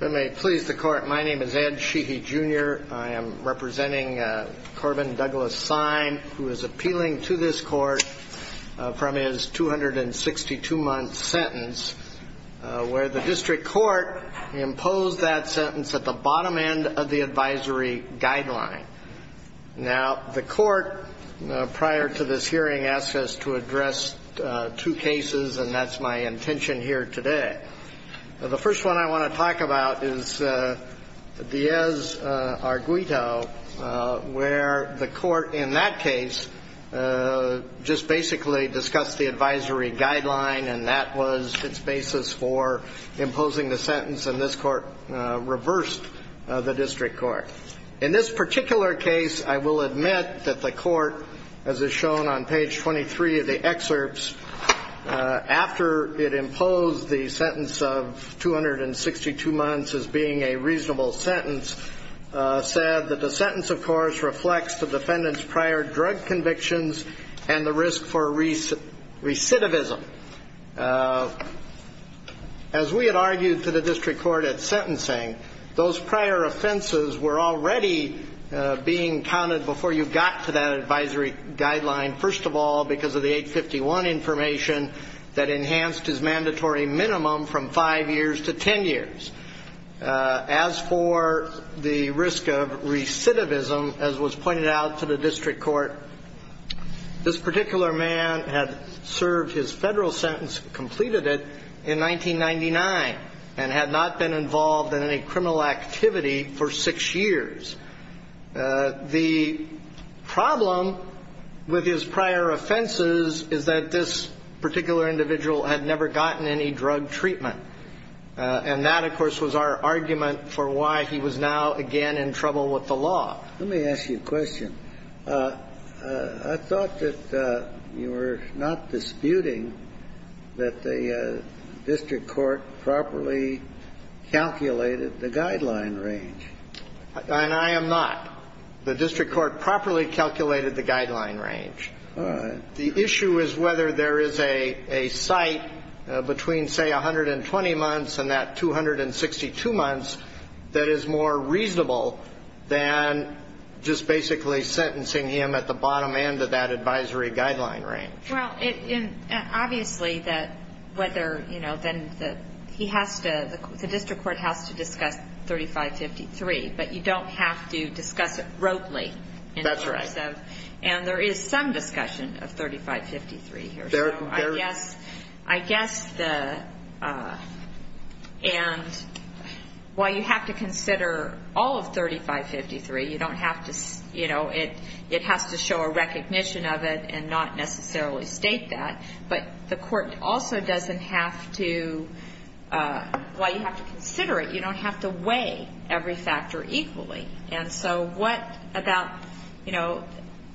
My name is Ed Sheehy Jr. I am representing Corbin Douglas Sime, who is appealing to this court from his 262-month sentence, where the district court imposed that sentence at the bottom end of the advisory guideline. Now, the court prior to this hearing asked us to address two cases, and that's my intention here today. The first one I want to talk about is Diaz-Arguito, where the court in that case just basically discussed the advisory guideline, and that was its basis for imposing the sentence, and this court reversed the district court. In this particular case, I will admit that the court, as is shown on page 23 of the excerpts, after it imposed the sentence of 262 months as being a reasonable sentence, said that the sentence, of course, reflects the defendant's prior drug convictions and the risk for recidivism. As we had argued to the district court at sentencing, those prior offenses were already being counted before you got to that advisory guideline, first of all because of the 851 information that enhanced his mandatory minimum from 5 years to 10 years. As for the risk of recidivism, as was pointed out to the district court, this particular man had served his federal sentence, completed it in 1999, and had not been involved in any criminal activity for 6 years. The problem with his prior offenses is that this particular individual had never gotten any drug treatment, and that, of course, was our argument for why he was now again in trouble with the law. Let me ask you a question. I thought that you were not disputing that the district court properly calculated the guideline range. And I am not. The district court properly calculated the guideline range. The issue is whether there is a site between, say, 120 months and that 262 months that is more reasonable than just basically sentencing him at the bottom end of that advisory guideline range. Well, obviously, the district court has to discuss 3553, but you don't have to discuss it broadly. That's right. And there is some discussion of 3553 here. I guess the – and while you have to consider all of 3553, you don't have to – you know, it has to show a recognition of it and not necessarily state that. But the court also doesn't have to – well, you have to consider it. You don't have to weigh every factor equally. And so what about – you know,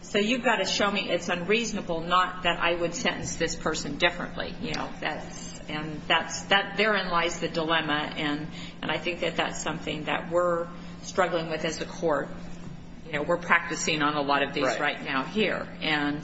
so you've got to show me it's unreasonable not that I would sentence this person differently. You know, that's – and that's – therein lies the dilemma, and I think that that's something that we're struggling with as a court. You know, we're practicing on a lot of these right now here. And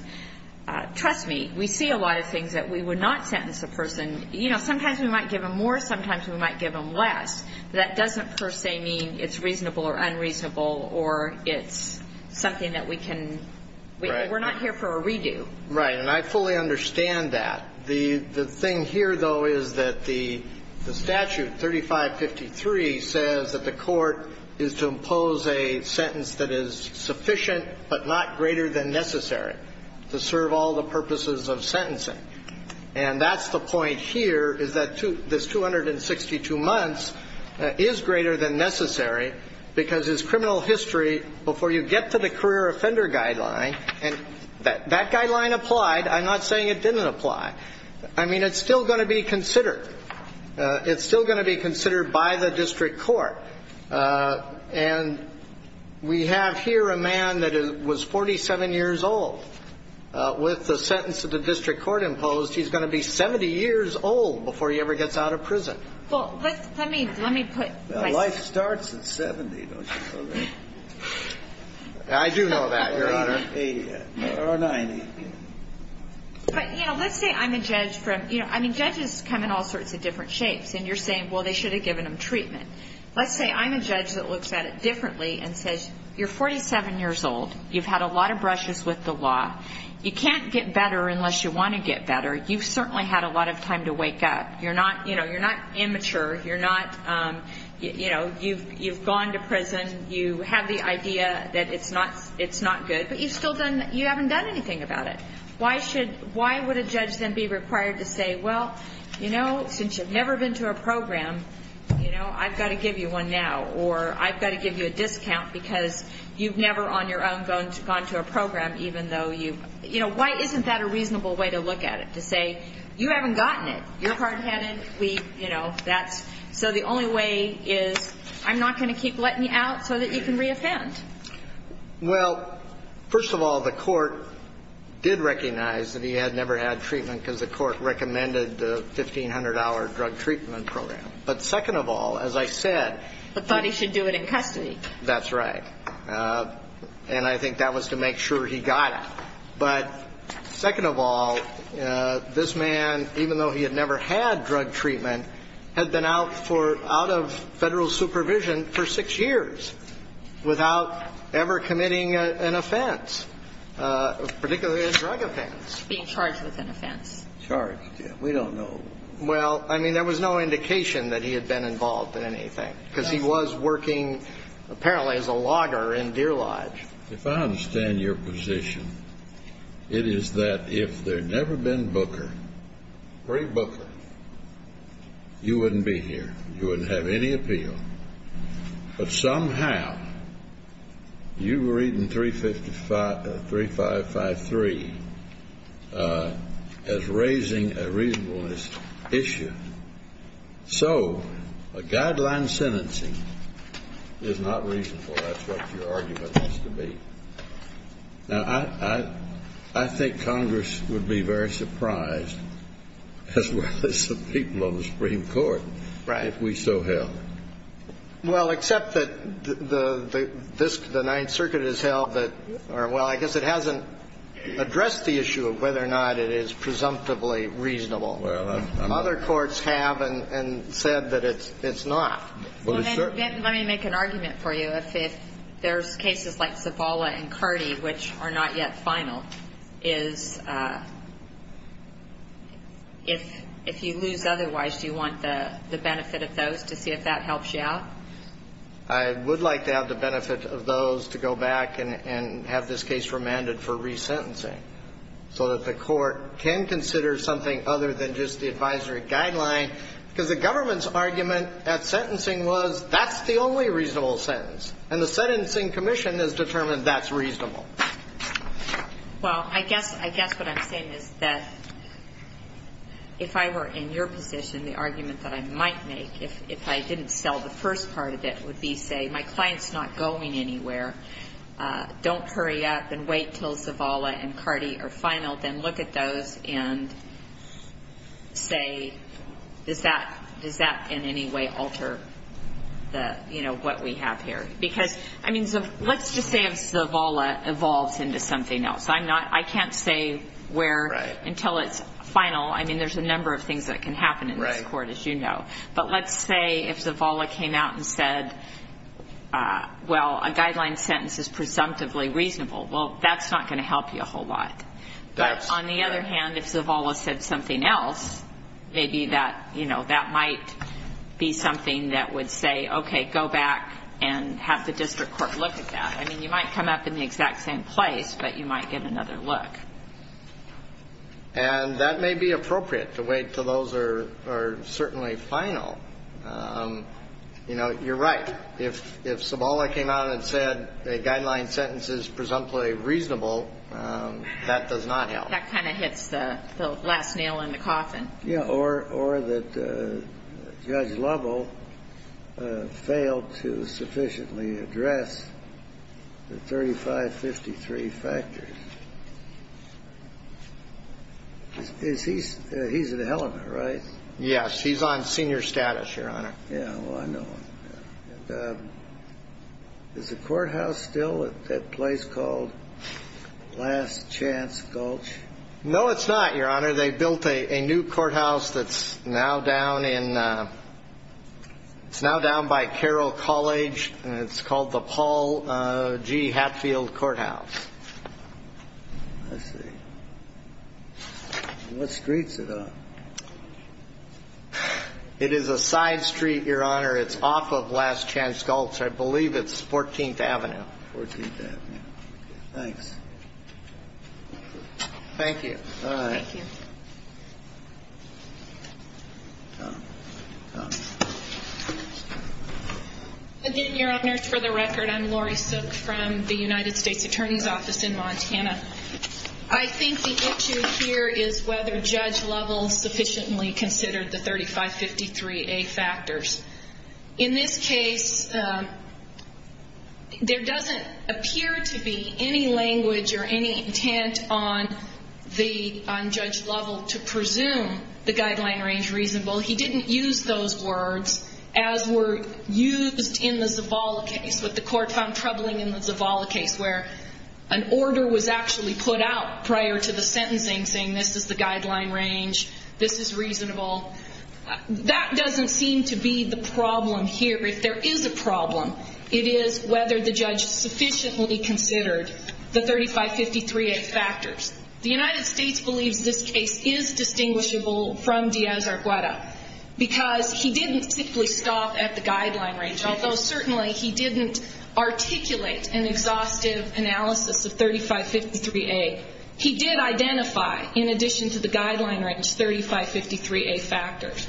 trust me, we see a lot of things that we would not sentence a person – you know, sometimes we might give them more, sometimes we might give them less. That doesn't per se mean it's reasonable or unreasonable or it's something that we can – we're not here for a redo. Right. And I fully understand that. The thing here, though, is that the statute, 3553, says that the court is to impose a sentence that is sufficient but not greater than necessary to serve all the purposes of sentencing. And that's the point here is that this 262 months is greater than necessary because it's criminal history before you get to the career offender guideline. And that guideline applied. I'm not saying it didn't apply. I mean, it's still going to be considered. It's still going to be considered by the district court. And we have here a man that was 47 years old. With the sentence that the district court imposed, he's going to be 70 years old before he ever gets out of prison. Well, let me put – Life starts at 70, don't you know that? I do know that, Your Honor. Or 90. But, you know, let's say I'm a judge from – you know, I mean, judges come in all sorts of different shapes. And you're saying, well, they should have given them treatment. Let's say I'm a judge that looks at it differently and says, you're 47 years old. You've had a lot of brushes with the law. You can't get better unless you want to get better. You've certainly had a lot of time to wake up. You're not – you know, you're not immature. You're not – you know, you've gone to prison. You have the idea that it's not good. But you still haven't done anything about it. Why should – why would a judge then be required to say, well, you know, since you've never been to a program, you know, I've got to give you one now, or I've got to give you a discount because you've never on your own gone to a program, even though you – you know, why isn't that a reasonable way to look at it, to say, you haven't gotten it. You're hard-headed. We, you know, that's – so the only way is I'm not going to keep letting you out so that you can re-offend. Well, first of all, the court did recognize that he had never had treatment because the court recommended the 1,500-hour drug treatment program. But second of all, as I said – But thought he should do it in custody. That's right. And I think that was to make sure he got it. But second of all, this man, even though he had never had drug treatment, had been out for – out of federal supervision for six years without ever committing an offense, particularly a drug offense. Being charged with an offense. Charged, yeah. We don't know. Well, I mean, there was no indication that he had been involved in anything because he was working apparently as a logger in Deer Lodge. If I understand your position, it is that if there had never been Booker, pre-Booker, you wouldn't be here. You wouldn't have any appeal. But somehow you were reading 3553 as raising a reasonableness issue. So a guideline sentencing is not reasonable. That's what your argument is to be. Now, I think Congress would be very surprised, as well as the people on the Supreme Court, if we so held. Well, except that the Ninth Circuit has held that – or, well, I guess it hasn't addressed the issue of whether or not it is presumptively reasonable. Other courts have and said that it's not. Well, then let me make an argument for you. If there's cases like Zavala and Cardi, which are not yet final, is if you lose otherwise, do you want the benefit of those to see if that helps you out? I would like to have the benefit of those to go back and have this case remanded for resentencing so that the court can consider something other than just the advisory guideline. Because the government's argument at sentencing was that's the only reasonable sentence. And the Sentencing Commission has determined that's reasonable. Well, I guess what I'm saying is that if I were in your position, the argument that I might make, if I didn't sell the first part of it, would be, say, my client's not going anywhere. Don't hurry up and wait until Zavala and Cardi are final. Then look at those and say, does that in any way alter what we have here? Because let's just say if Zavala evolves into something else. I can't say where until it's final. I mean, there's a number of things that can happen in this court, as you know. But let's say if Zavala came out and said, well, a guideline sentence is presumptively reasonable. Well, that's not going to help you a whole lot. But on the other hand, if Zavala said something else, maybe that might be something that would say, okay, go back and have the district court look at that. I mean, you might come up in the exact same place, but you might get another look. And that may be appropriate to wait until those are certainly final. You know, you're right. If Zavala came out and said a guideline sentence is presumptively reasonable, that does not help. That kind of hits the last nail in the coffin. Yeah, or that Judge Lovell failed to sufficiently address the 3553 factors. He's at Helena, right? Yes, he's on senior status, Your Honor. Yeah, well, I know him. Is the courthouse still at that place called Last Chance Gulch? No, it's not, Your Honor. They built a new courthouse that's now down by Carroll College, and it's called the Paul G. Hatfield Courthouse. I see. What street's it on? It is a side street, Your Honor. It's off of Last Chance Gulch. I believe it's 14th Avenue. 14th Avenue. Thanks. Thank you. All right. Thank you. Tom. Tom. Good evening, Your Honors. For the record, I'm Lori Sook from the United States Attorney's Office in Montana. I think the issue here is whether Judge Lovell sufficiently considered the 3553A factors. In this case, there doesn't appear to be any language or any intent on Judge Lovell to presume the guideline range reasonable. He didn't use those words, as were used in the Zavala case, what the court found troubling in the Zavala case, where an order was actually put out prior to the sentencing, saying this is the guideline range, this is reasonable. That doesn't seem to be the problem here. If there is a problem, it is whether the judge sufficiently considered the 3553A factors. The United States believes this case is distinguishable from Diaz-Argueda because he didn't simply stop at the guideline range, although certainly he didn't articulate an exhaustive analysis of 3553A. He did identify, in addition to the guideline range, 3553A factors.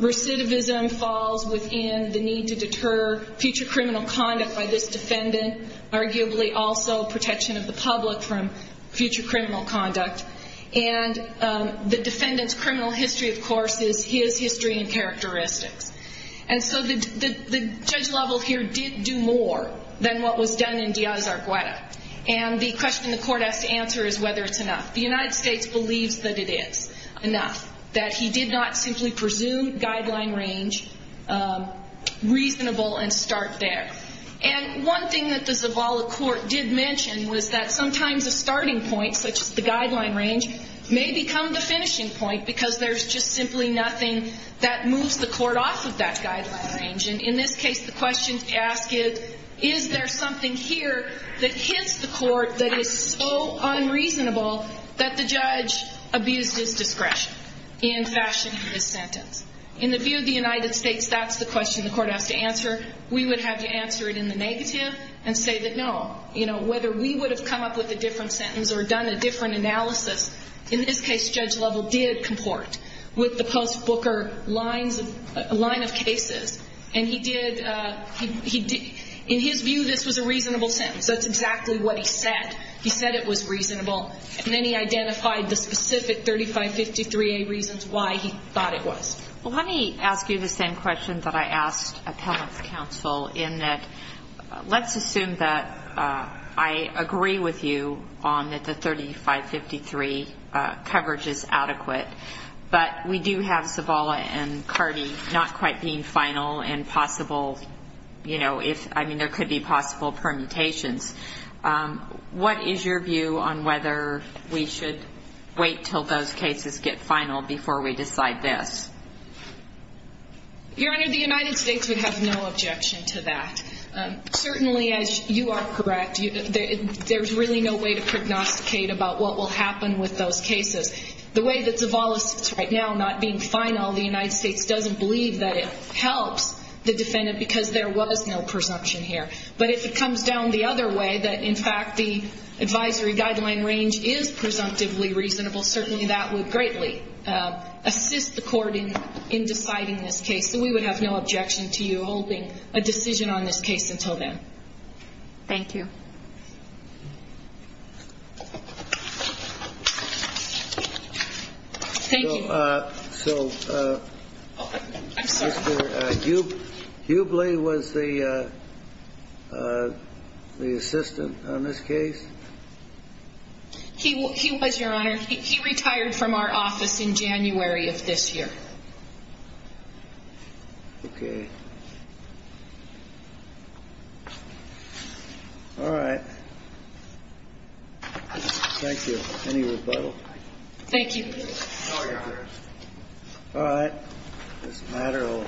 Recidivism falls within the need to deter future criminal conduct by this defendant, arguably also protection of the public from future criminal conduct. And the defendant's criminal history, of course, is his history and characteristics. And so the Judge Lovell here did do more than what was done in Diaz-Argueda. And the question the court has to answer is whether it's enough. The United States believes that it is enough, that he did not simply presume guideline range reasonable and start there. And one thing that the Zavala court did mention was that sometimes a starting point, such as the guideline range, may become the finishing point because there's just simply nothing that moves the court off of that guideline range. And in this case, the question to ask is, is there something here that hits the court that is so unreasonable that the judge abused his discretion in fashioning his sentence? In the view of the United States, that's the question the court has to answer. We would have you answer it in the negative and say that no. You know, whether we would have come up with a different sentence or done a different analysis. In this case, Judge Lovell did comport with the post-Booker line of cases. And he did, in his view, this was a reasonable sentence. That's exactly what he said. He said it was reasonable. And then he identified the specific 3553A reasons why he thought it was. Well, let me ask you the same question that I asked appellants counsel, in that let's assume that I agree with you on that the 3553 coverage is adequate, but we do have Zavala and Cardi not quite being final and possible, you know, if, I mean, there could be possible permutations. What is your view on whether we should wait until those cases get final before we decide this? Your Honor, the United States would have no objection to that. Certainly, as you are correct, there's really no way to prognosticate about what will happen with those cases. The way that Zavala sits right now, not being final, the United States doesn't believe that it helps the defendant because there was no presumption here. But if it comes down the other way, that, in fact, the advisory guideline range is presumptively reasonable, certainly that would greatly assist the court in deciding this case. So we would have no objection to you holding a decision on this case until then. Thank you. Thank you. So, Mr. Hubley was the assistant on this case? He was, Your Honor. He retired from our office in January of this year. Okay. All right. Thank you. Any rebuttal? Thank you. All right. This matter will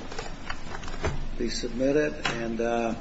be submitted. And